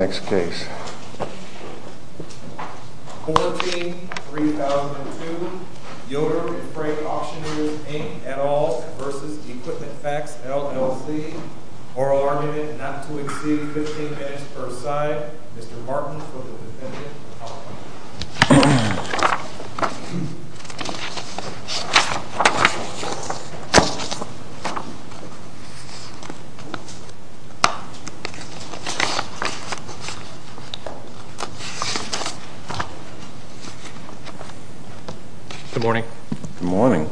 14-3002 Yoder and Frey Auctioneers v. EquipmentFacts LLC Oral argument not to exceed 15 minutes per side Good morning.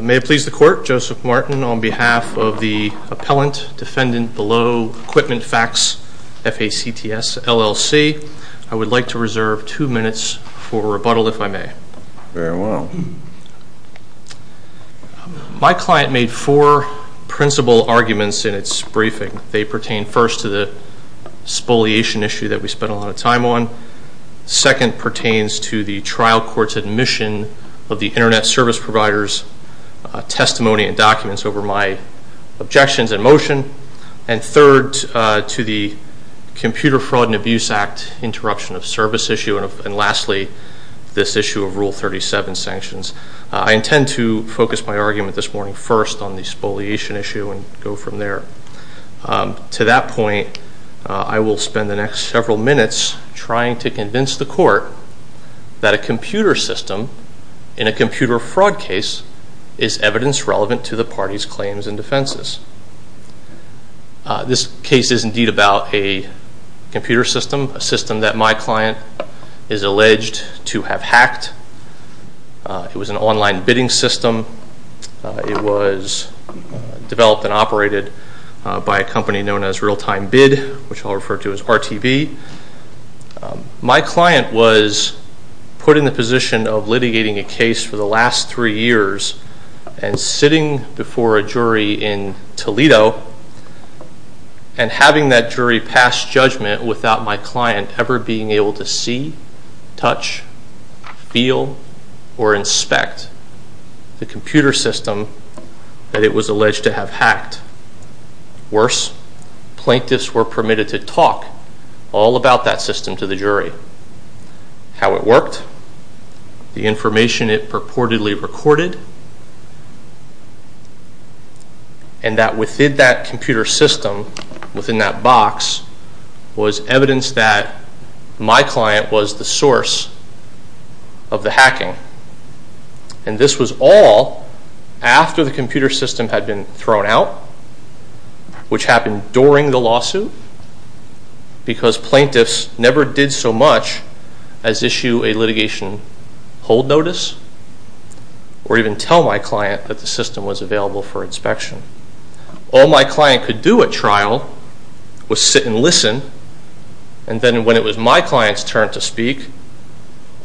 May it please the court, Joseph Martin on behalf of the appellant defendant below EquipmentFacts, F-A-C-T-S, LLC. I would like to reserve two minutes for rebuttal if I may. Very well. My client made four principal arguments in its briefing. They pertain first to the spoliation issue that we spent a lot of time on. Second pertains to the trial court's admission of the Internet Service Provider's testimony and documents over my objections and motion. And third to the Computer Fraud and Abuse Act interruption of service issue. And lastly, this issue of Rule 37 sanctions. I intend to focus my argument this morning first on the spoliation issue and go from there. To that point, I will spend the next several minutes trying to convince the court that a computer system in a computer fraud case is evidence relevant to the party's claims and defenses. This case is indeed about a computer system, a system that my client is alleged to have hacked. It was an online bidding system. It was developed and operated by a company known as Real-Time Bid, which I'll refer to as RTV. My client was put in the position of litigating a case for the last three years and sitting before a jury in Toledo and having that jury pass judgment without my client ever being able to see, touch, feel, or inspect the computer system that it was alleged to have hacked. Worse, plaintiffs were permitted to talk all about that system to the jury. How it worked, the information it purportedly recorded, and that within that computer system, within that box, was evidence that my client was the source of the hacking. And this was all after the computer system had been thrown out, which happened during the lawsuit because plaintiffs never did so much as issue a litigation hold notice or even tell my client that the system was available for inspection. All my client could do at trial was sit and listen, and then when it was my client's turn to speak,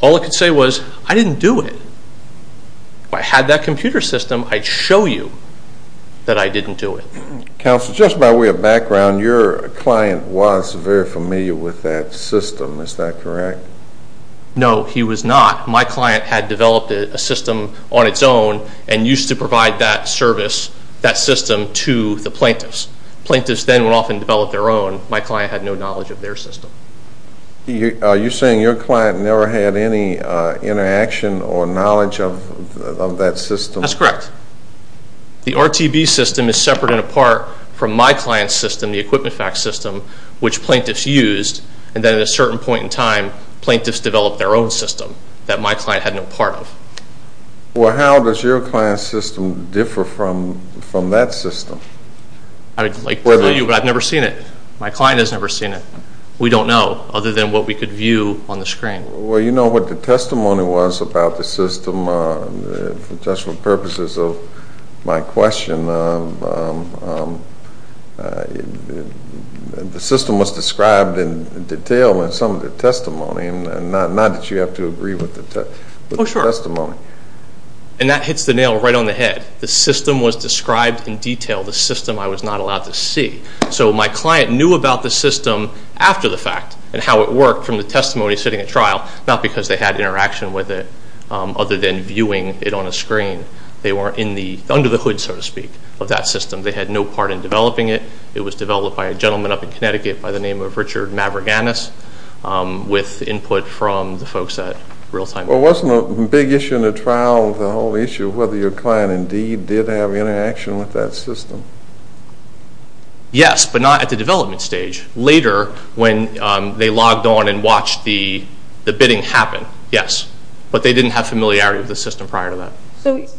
all it could say was, I didn't do it. If I had that computer system, I'd show you that I didn't do it. Counsel, just by way of background, your client was very familiar with that system, is that correct? No, he was not. My client had developed a system on its own and used to provide that service, that system, to the plaintiffs. Plaintiffs then would often develop their own. My client had no knowledge of their system. Are you saying your client never had any interaction or knowledge of that system? That's correct. The RTB system is separate and apart from my client's system, the Equipment Facts system, which plaintiffs used, and then at a certain point in time, plaintiffs developed their own system that my client had no part of. Well, how does your client's system differ from that system? I'd like to tell you, but I've never seen it. My client has never seen it. We don't know, other than what we could view on the screen. Well, you know what the testimony was about the system. For the purposes of my question, the system was described in detail in some of the testimony, not that you have to agree with the testimony. Oh, sure. And that hits the nail right on the head. The system was described in detail, the system I was not allowed to see. So my client knew about the system after the fact and how it worked from the testimony sitting at trial, not because they had interaction with it other than viewing it on a screen. They weren't under the hood, so to speak, of that system. They had no part in developing it. It was developed by a gentleman up in Connecticut by the name of Richard Maverganis with input from the folks at Realtime. Well, wasn't a big issue in the trial, the whole issue, whether your client indeed did have interaction with that system? Yes, but not at the development stage. Later, when they logged on and watched the bidding happen, yes. But they didn't have familiarity with the system prior to that.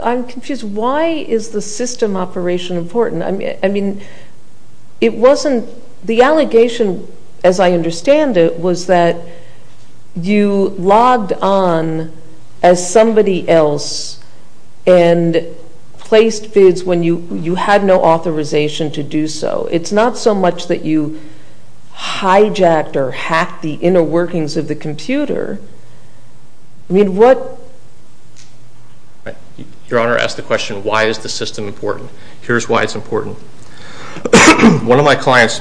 I'm confused. Why is the system operation important? I mean, it wasn't the allegation, as I understand it, was that you logged on as somebody else and placed bids when you had no authorization to do so. It's not so much that you hijacked or hacked the inner workings of the computer. I mean, what? Your Honor, ask the question, why is the system important? Here's why it's important. One of my client's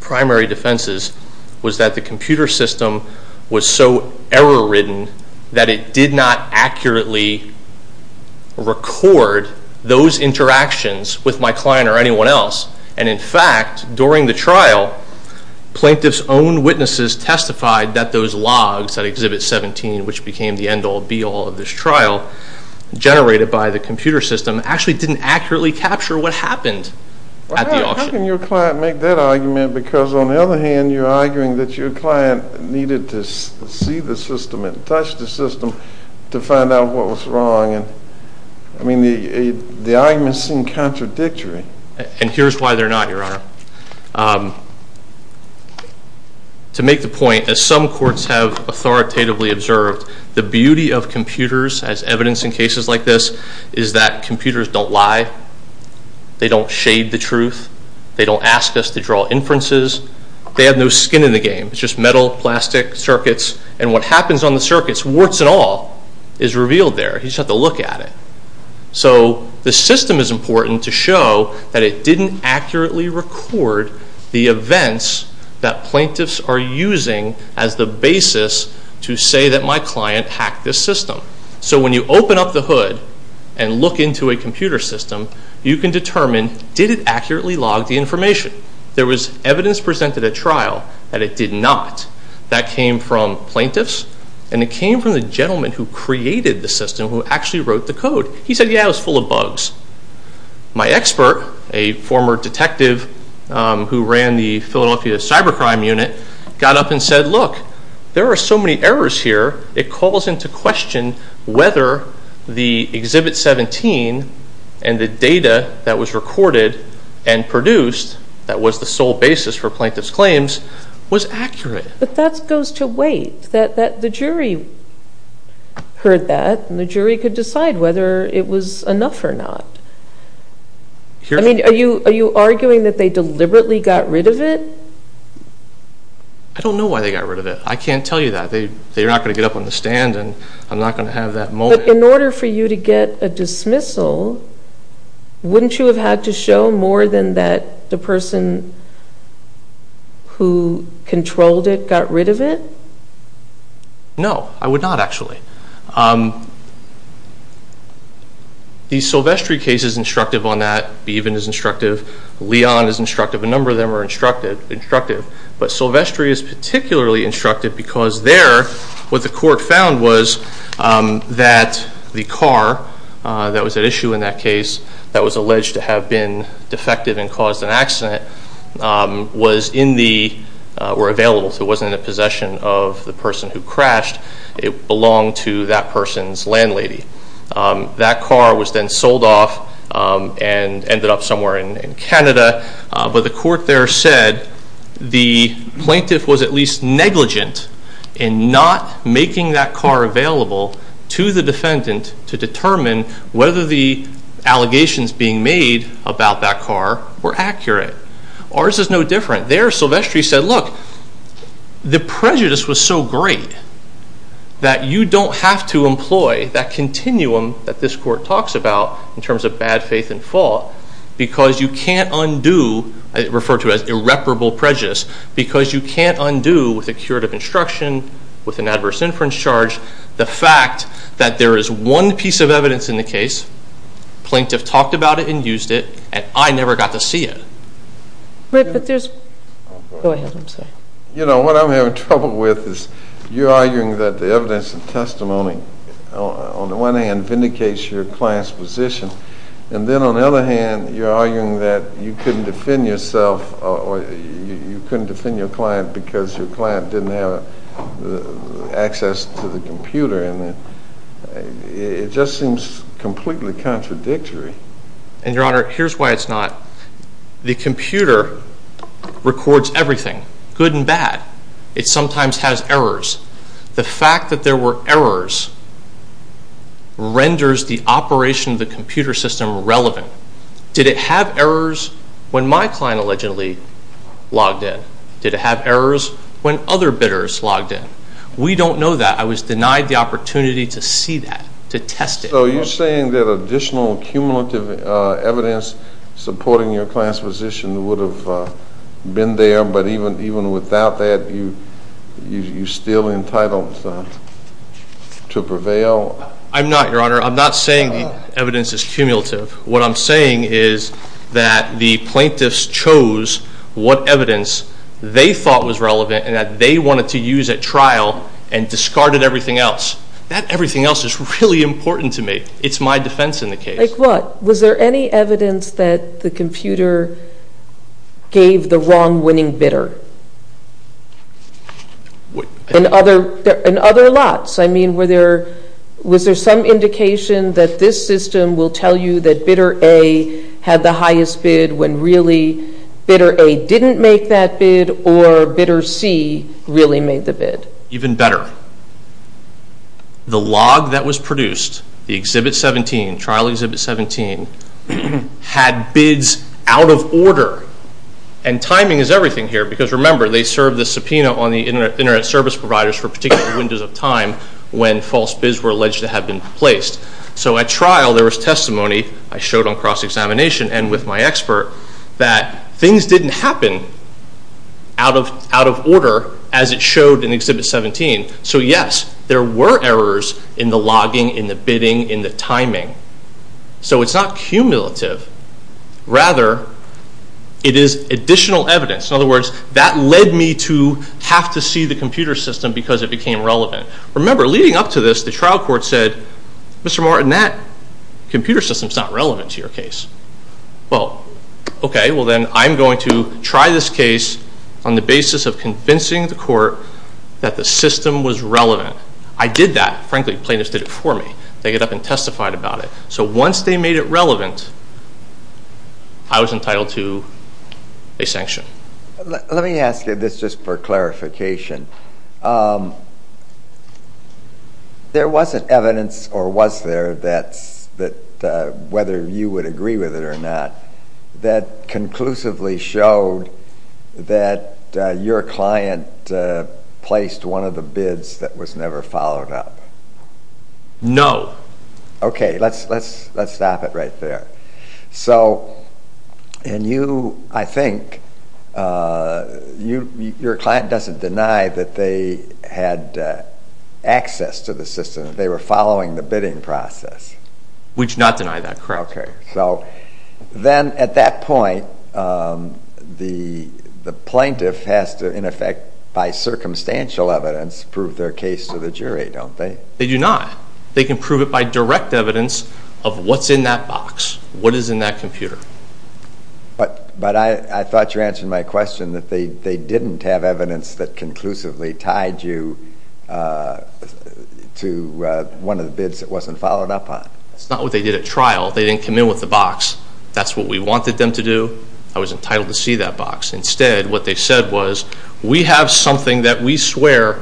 primary defenses was that the computer system was so error-ridden that it did not accurately record those interactions with my client or anyone else. And, in fact, during the trial, plaintiffs' own witnesses testified that those logs at Exhibit 17, which became the end-all, be-all of this trial, generated by the computer system, actually didn't accurately capture what happened at the auction. How can your client make that argument? Because, on the other hand, you're arguing that your client needed to see the system and touch the system to find out what was wrong. I mean, the argument seemed contradictory. And here's why they're not, Your Honor. The beauty of computers, as evidenced in cases like this, is that computers don't lie. They don't shade the truth. They don't ask us to draw inferences. They have no skin in the game. It's just metal, plastic, circuits. And what happens on the circuits, warts and all, is revealed there. You just have to look at it. that plaintiffs are using as the basis to say that my client hacked this system. So when you open up the hood and look into a computer system, you can determine, did it accurately log the information? There was evidence presented at trial that it did not. That came from plaintiffs, and it came from the gentleman who created the system, who actually wrote the code. He said, yeah, it was full of bugs. My expert, a former detective who ran the Philadelphia Cybercrime Unit, got up and said, look, there are so many errors here, it calls into question whether the Exhibit 17 and the data that was recorded and produced that was the sole basis for plaintiffs' claims was accurate. But that goes to wait. I believe that the jury heard that, and the jury could decide whether it was enough or not. Are you arguing that they deliberately got rid of it? I don't know why they got rid of it. I can't tell you that. They're not going to get up on the stand, and I'm not going to have that moment. But in order for you to get a dismissal, wouldn't you have had to show more than that the person who controlled it would get rid of it? No, I would not, actually. The Silvestri case is instructive on that. Beaven is instructive. Leon is instructive. A number of them are instructive. But Silvestri is particularly instructive because there, what the court found was that the car that was at issue in that case that was alleged to have been defective and caused an accident were available. So it wasn't in the possession of the person who crashed. It belonged to that person's landlady. That car was then sold off and ended up somewhere in Canada. But the court there said the plaintiff was at least negligent in not making that car available to the defendant to determine whether the allegations being made about that car were accurate. Ours is no different. There Silvestri said, look, the prejudice was so great that you don't have to employ that continuum that this court talks about in terms of bad faith and fault because you can't undo, I refer to it as irreparable prejudice, because you can't undo with a curative instruction, with an adverse inference charge, the fact that there is one piece of evidence in the case, the plaintiff talked about it and used it, and I never got to see it. Go ahead, I'm sorry. You know, what I'm having trouble with is you're arguing that the evidence and testimony on the one hand vindicates your client's position, and then on the other hand you're arguing that you couldn't defend yourself or you couldn't defend your client because your client didn't have access to the computer, and it just seems completely contradictory. And, Your Honor, here's why it's not. The computer records everything, good and bad. It sometimes has errors. The fact that there were errors renders the operation of the computer system relevant. Did it have errors when my client allegedly logged in? Did it have errors when other bidders logged in? We don't know that. I was denied the opportunity to see that, to test it. So you're saying that additional cumulative evidence supporting your client's position would have been there, but even without that you're still entitled to prevail? I'm not, Your Honor. I'm not saying the evidence is cumulative. What I'm saying is that the plaintiffs chose what evidence they thought was relevant and that they wanted to use at trial and discarded everything else. That everything else is really important to me. It's my defense in the case. Like what? Was there any evidence that the computer gave the wrong winning bidder? In other lots. I mean, was there some indication that this system will tell you that bidder A had the highest bid when really bidder A didn't make that bid or bidder C really made the bid? Even better, the log that was produced, the Exhibit 17, trial Exhibit 17, had bids out of order. And timing is everything here because, remember, they served the subpoena on the Internet Service Providers for particular windows of time when false bids were alleged to have been placed. So at trial there was testimony I showed on cross-examination and with my expert that things didn't happen out of order as it showed in Exhibit 17. So, yes, there were errors in the logging, in the bidding, in the timing. So it's not cumulative. Rather, it is additional evidence. In other words, that led me to have to see the computer system because it became relevant. Remember, leading up to this, the trial court said, Mr. Martin, that computer system is not relevant to your case. Well, okay, well then I'm going to try this case on the basis of convincing the court that the system was relevant. I did that. Frankly, plaintiffs did it for me. They got up and testified about it. Let me ask you this just for clarification. There wasn't evidence, or was there, that whether you would agree with it or not that conclusively showed that your client placed one of the bids that was never followed up? No. Okay, let's stop it right there. So, and you, I think, your client doesn't deny that they had access to the system, that they were following the bidding process. We do not deny that, correct. Okay, so then at that point, the plaintiff has to, in effect, by circumstantial evidence prove their case to the jury, don't they? They do not. They can prove it by direct evidence of what's in that box, what is in that computer. But I thought you answered my question that they didn't have evidence that conclusively tied you to one of the bids that wasn't followed up on. That's not what they did at trial. They didn't come in with the box. That's what we wanted them to do. I was entitled to see that box. Instead, what they said was, we have something that we swear.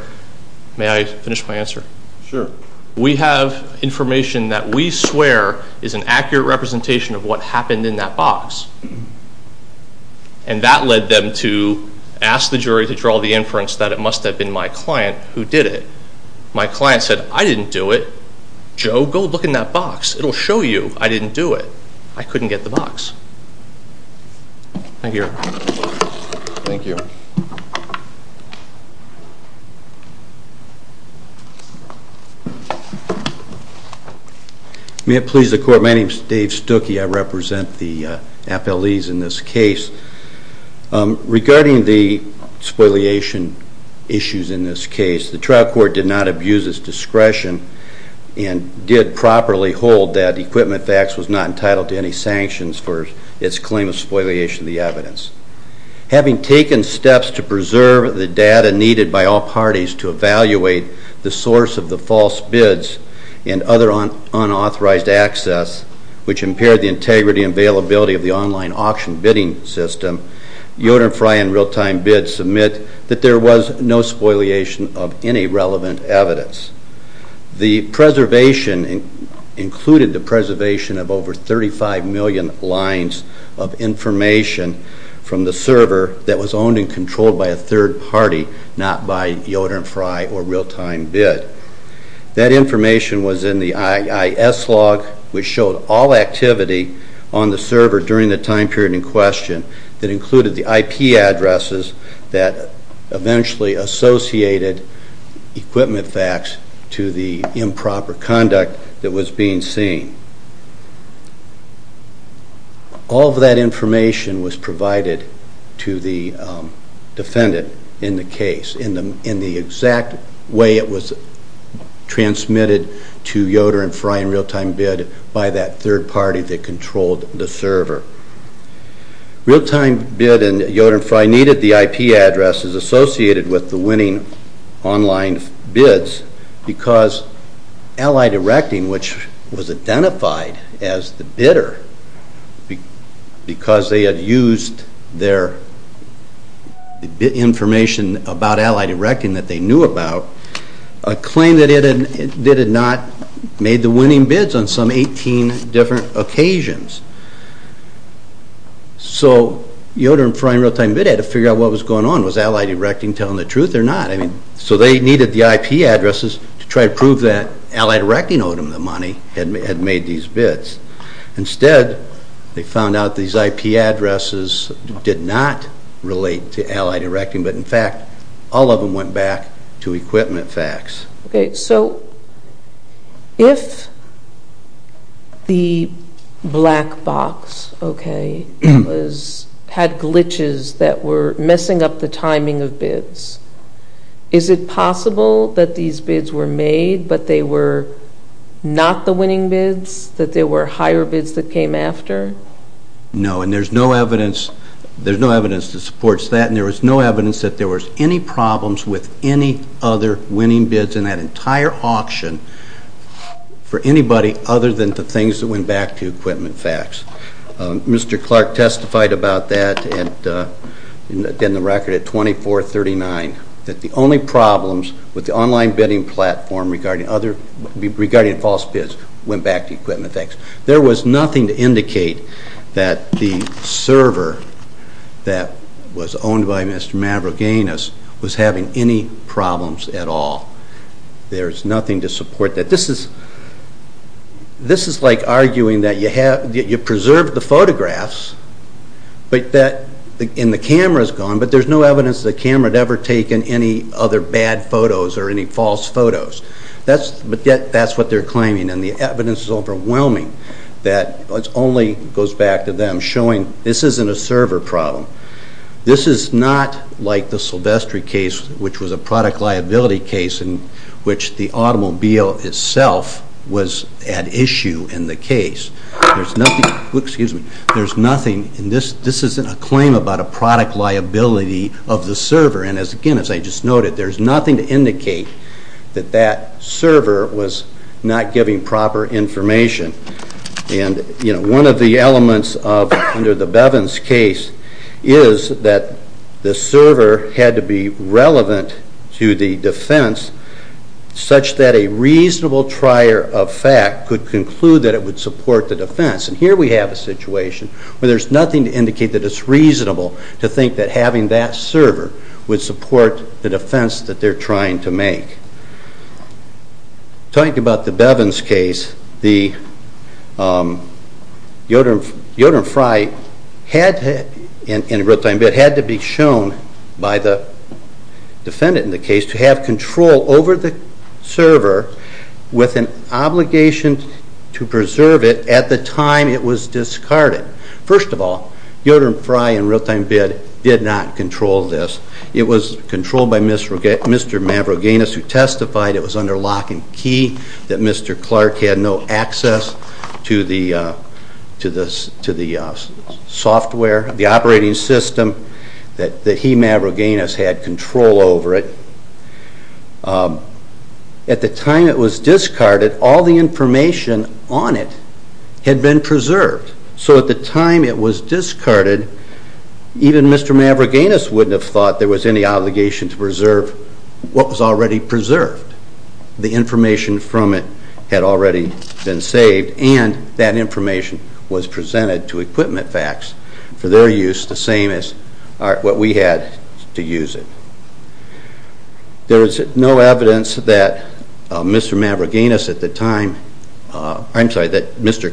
May I finish my answer? Sure. We have information that we swear is an accurate representation of what happened in that box. And that led them to ask the jury to draw the inference that it must have been my client who did it. My client said, I didn't do it. Joe, go look in that box. It will show you I didn't do it. I couldn't get the box. Thank you. Thank you. May it please the Court, my name is Dave Stuckey. I represent the FLEs in this case. Regarding the spoliation issues in this case, the trial court did not abuse its discretion and did properly hold that Equipment Facts was not entitled to any sanctions for its claim of spoliation of the evidence. Having taken steps to preserve the data needed by all parties to evaluate the source of the false bids and other unauthorized access, which impaired the integrity and availability of the online auction bidding system, Yoder and Frey and Realtime Bid submit that there was no spoliation of any relevant evidence. The preservation included the preservation of over 35 million lines of information from the server that was owned and controlled by a third party, not by Yoder and Frey or Realtime Bid. That information was in the IIS log, which showed all activity on the server during the time period in question that included the IP addresses that eventually associated Equipment Facts to the improper conduct that was being seen. All of that information was provided to the defendant in the case in the exact way it was transmitted to Yoder and Frey and Realtime Bid by that third party that controlled the server. Realtime Bid and Yoder and Frey needed the IP addresses associated with the winning online bids because Allied Erecting, which was identified as the bidder because they had used their information about Allied Erecting that they knew about, claimed that it had not made the winning bids on some 18 different occasions. So Yoder and Frey and Realtime Bid had to figure out what was going on. Was Allied Erecting telling the truth or not? So they needed the IP addresses to try to prove that Allied Erecting owed them the money, had made these bids. Instead, they found out these IP addresses did not relate to Allied Erecting, but in fact all of them went back to Equipment Facts. Okay, so if the black box, okay, had glitches that were messing up the timing of bids, is it possible that these bids were made but they were not the winning bids, that they were higher bids that came after? No, and there's no evidence that supports that, and there was no evidence that there was any problems with any other winning bids in that entire auction for anybody other than the things that went back to Equipment Facts. Mr. Clark testified about that in the record at 2439, that the only problems with the online bidding platform regarding false bids went back to Equipment Facts. There was nothing to indicate that the server that was owned by Mr. Mavrogiannis was having any problems at all. There's nothing to support that. This is like arguing that you preserved the photographs, and the camera's gone, but there's no evidence the camera had ever taken any other bad photos or any false photos. But that's what they're claiming, and the evidence is overwhelming, that it only goes back to them showing this isn't a server problem. This is not like the Silvestri case, which was a product liability case in which the automobile itself was at issue in the case. There's nothing, and this isn't a claim about a product liability of the server, and again, as I just noted, there's nothing to indicate that that server was not giving proper information. One of the elements under the Bevins case is that the server had to be relevant to the defense such that a reasonable trier of fact could conclude that it would support the defense. Here we have a situation where there's nothing to indicate that it's reasonable to think that having that server would support the defense that they're trying to make. Talking about the Bevins case, the Yoder and Fry had to be shown by the defendant in the case to have control over the server with an obligation to preserve it at the time it was discarded. First of all, Yoder and Fry in real-time bid did not control this. It was controlled by Mr. Mavrogainis, who testified it was under lock and key, that Mr. Clark had no access to the software, the operating system, that he, Mavrogainis, had control over it. At the time it was discarded, all the information on it had been preserved. So at the time it was discarded, even Mr. Mavrogainis wouldn't have thought there was any obligation to preserve what was already preserved. The information from it had already been saved, and that information was presented to Equipment Facts for their use, the same as what we had to use it. There is no evidence that Mr.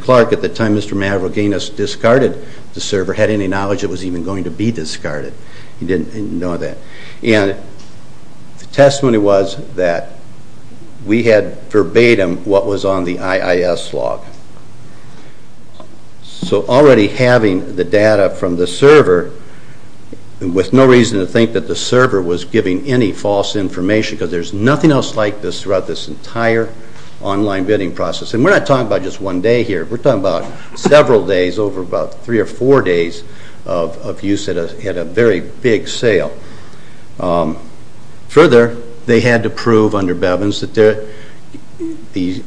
Clark, at the time Mr. Mavrogainis discarded the server, had any knowledge it was even going to be discarded. He didn't know that. And the testimony was that we had verbatim what was on the IIS log. So already having the data from the server, with no reason to think that the server was giving any false information, because there's nothing else like this throughout this entire online bidding process. And we're not talking about just one day here. We're talking about several days over about three or four days of use at a very big sale. Further, they had to prove under Bevins that the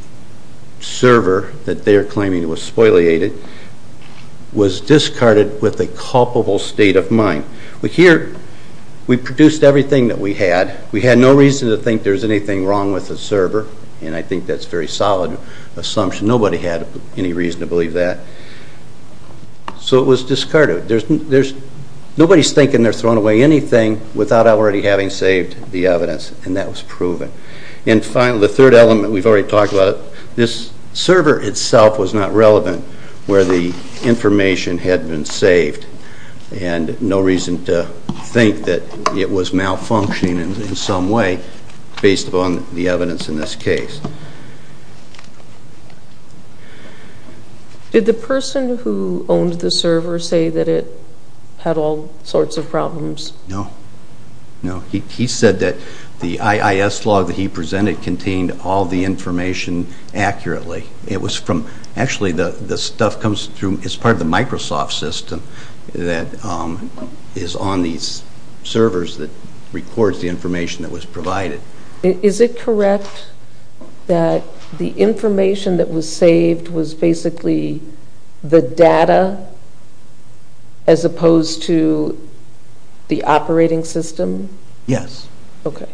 server that they're claiming was spoliated was discarded with a culpable state of mind. Here, we produced everything that we had. We had no reason to think there's anything wrong with the server, and I think that's a very solid assumption. Nobody had any reason to believe that. So it was discarded. Nobody's thinking they're throwing away anything without already having saved the evidence, and that was proven. And finally, the third element, we've already talked about it. This server itself was not relevant where the information had been saved, and no reason to think that it was malfunctioning in some way, based upon the evidence in this case. Did the person who owned the server say that it had all sorts of problems? No. He said that the IIS log that he presented contained all the information accurately. It was from actually the stuff comes through as part of the Microsoft system that is on these servers that records the information that was provided. Is it correct that the information that was saved was basically the data as opposed to the operating system? Yes. Okay.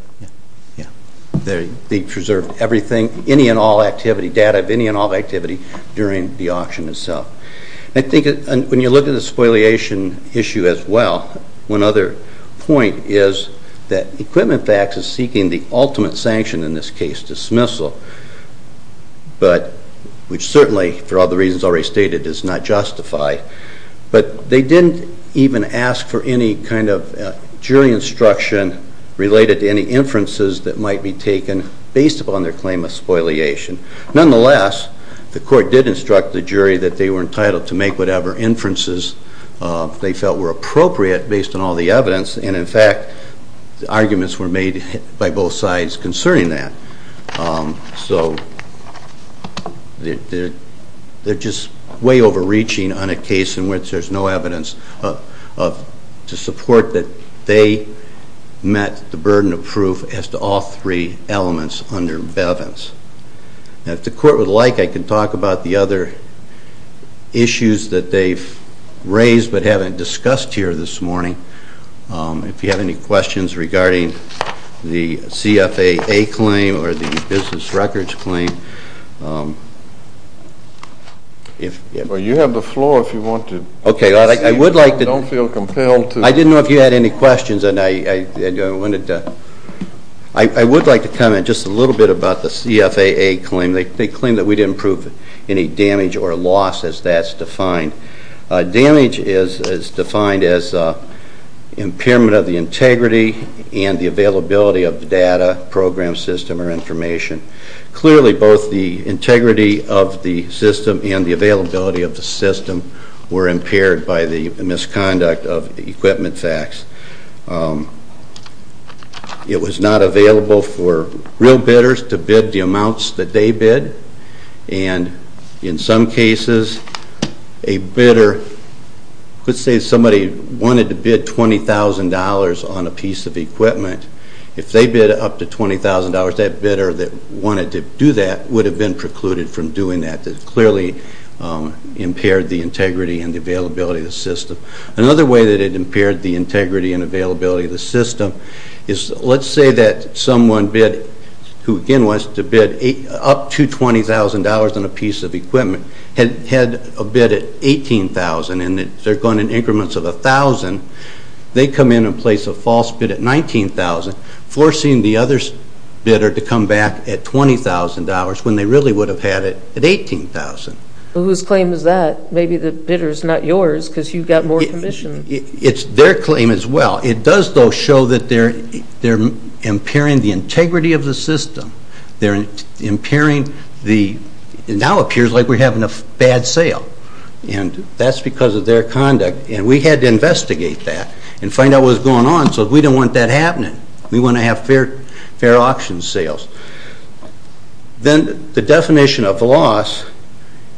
Yeah. They preserved everything, any and all activity, data of any and all activity during the auction itself. I think when you look at the spoliation issue as well, one other point is that Equipment Facts is seeking the ultimate sanction in this case, dismissal, which certainly, for all the reasons already stated, is not justified. But they didn't even ask for any kind of jury instruction related to any inferences that might be taken based upon their claim of spoliation. Nonetheless, the court did instruct the jury that they were entitled to make whatever inferences they felt were appropriate based on all the evidence, and, in fact, the arguments were made by both sides concerning that. So they're just way overreaching on a case in which there's no evidence to support that they met the burden of proof as to all three elements under Bevins. Now, if the court would like, I can talk about the other issues that they've raised but haven't discussed here this morning. If you have any questions regarding the CFAA claim or the business records claim. Well, you have the floor if you want to. Okay. I would like to. Don't feel compelled to. I didn't know if you had any questions. I would like to comment just a little bit about the CFAA claim. They claim that we didn't prove any damage or loss as that's defined. Damage is defined as impairment of the integrity and the availability of the data, program, system, or information. Clearly, both the integrity of the system and the availability of the system were impaired by the misconduct of equipment facts. It was not available for real bidders to bid the amounts that they bid, and in some cases a bidder could say somebody wanted to bid $20,000 on a piece of equipment. If they bid up to $20,000, that bidder that wanted to do that would have been precluded from doing that. It clearly impaired the integrity and the availability of the system. Another way that it impaired the integrity and availability of the system is, let's say that someone bid, who again wants to bid up to $20,000 on a piece of equipment, had a bid at $18,000 and they're going in increments of $1,000. They come in and place a false bid at $19,000, forcing the other bidder to come back at $20,000 when they really would have had it at $18,000. Whose claim is that? Maybe the bidder is not yours because you've got more commission. It's their claim as well. It does, though, show that they're impairing the integrity of the system. They're impairing the – it now appears like we're having a bad sale, and that's because of their conduct, and we had to investigate that and find out what was going on so we don't want that happening. We want to have fair auction sales. Then the definition of loss,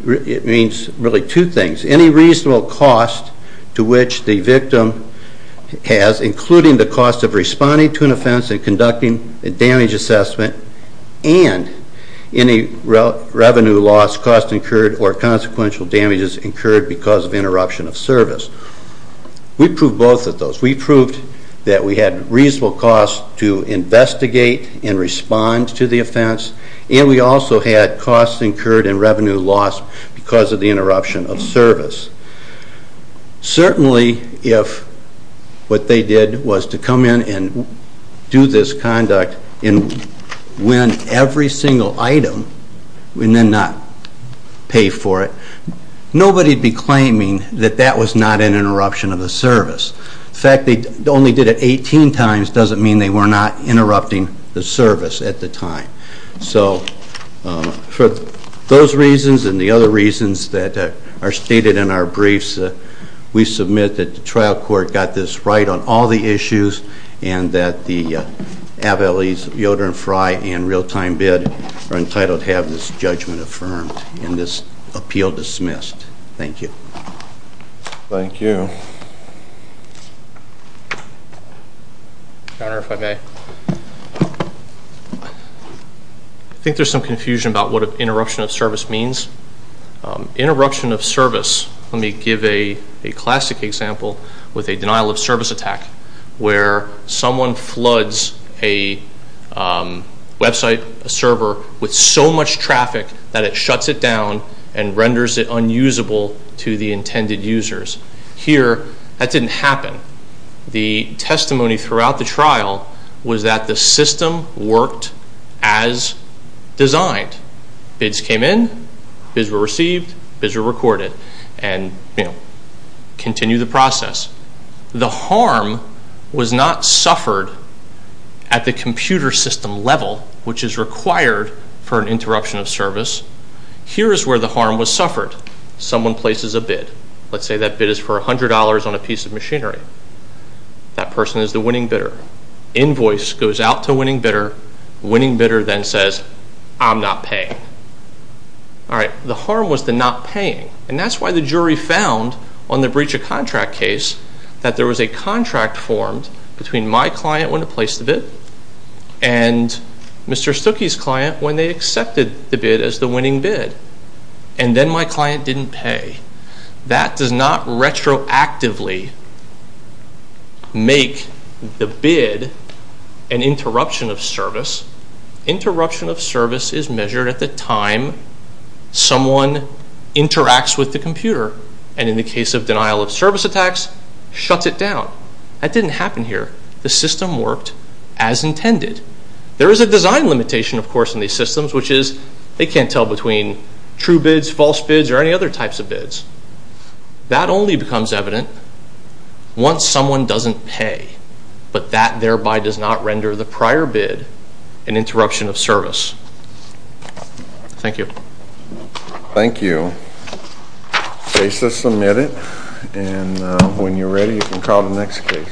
it means really two things. Any reasonable cost to which the victim has, including the cost of responding to an offense and conducting a damage assessment, and any revenue loss, cost incurred, or consequential damages incurred because of interruption of service. We proved both of those. We proved that we had reasonable cost to investigate and respond to the offense, and we also had cost incurred and revenue lost because of the interruption of service. Certainly if what they did was to come in and do this conduct and win every single item and then not pay for it, nobody would be claiming that that was not an interruption of the service. The fact they only did it 18 times doesn't mean they were not interrupting the service at the time. So for those reasons and the other reasons that are stated in our briefs, we submit that the trial court got this right on all the issues and that the abilities of Yoder and Frey and real-time bid are entitled to have this judgment affirmed and this appeal dismissed. Thank you. Thank you. I think there's some confusion about what interruption of service means. Interruption of service, let me give a classic example with a denial of service attack where someone floods a website, a server, with so much traffic that it shuts it down and renders it unusable to the intended users. Here, that didn't happen. The testimony throughout the trial was that the system worked as designed. Bids came in, bids were received, bids were recorded and continued the process. The harm was not suffered at the computer system level, which is required for an interruption of service. Here is where the harm was suffered. Someone places a bid. Let's say that bid is for $100 on a piece of machinery. That person is the winning bidder. Invoice goes out to winning bidder. Winning bidder then says, I'm not paying. The harm was the not paying, and that's why the jury found on the breach of contract case that there was a contract formed between my client when they placed the bid and Mr. Stuckey's client when they accepted the bid as the winning bid, and then my client didn't pay. That does not retroactively make the bid an interruption of service. Interruption of service is measured at the time someone interacts with the computer, and in the case of denial of service attacks, shuts it down. That didn't happen here. The system worked as intended. There is a design limitation, of course, in these systems, which is they can't tell between true bids, false bids, or any other types of bids. That only becomes evident once someone doesn't pay, but that thereby does not render the prior bid an interruption of service. Thank you. Thank you. The case is submitted, and when you're ready, you can call the next case.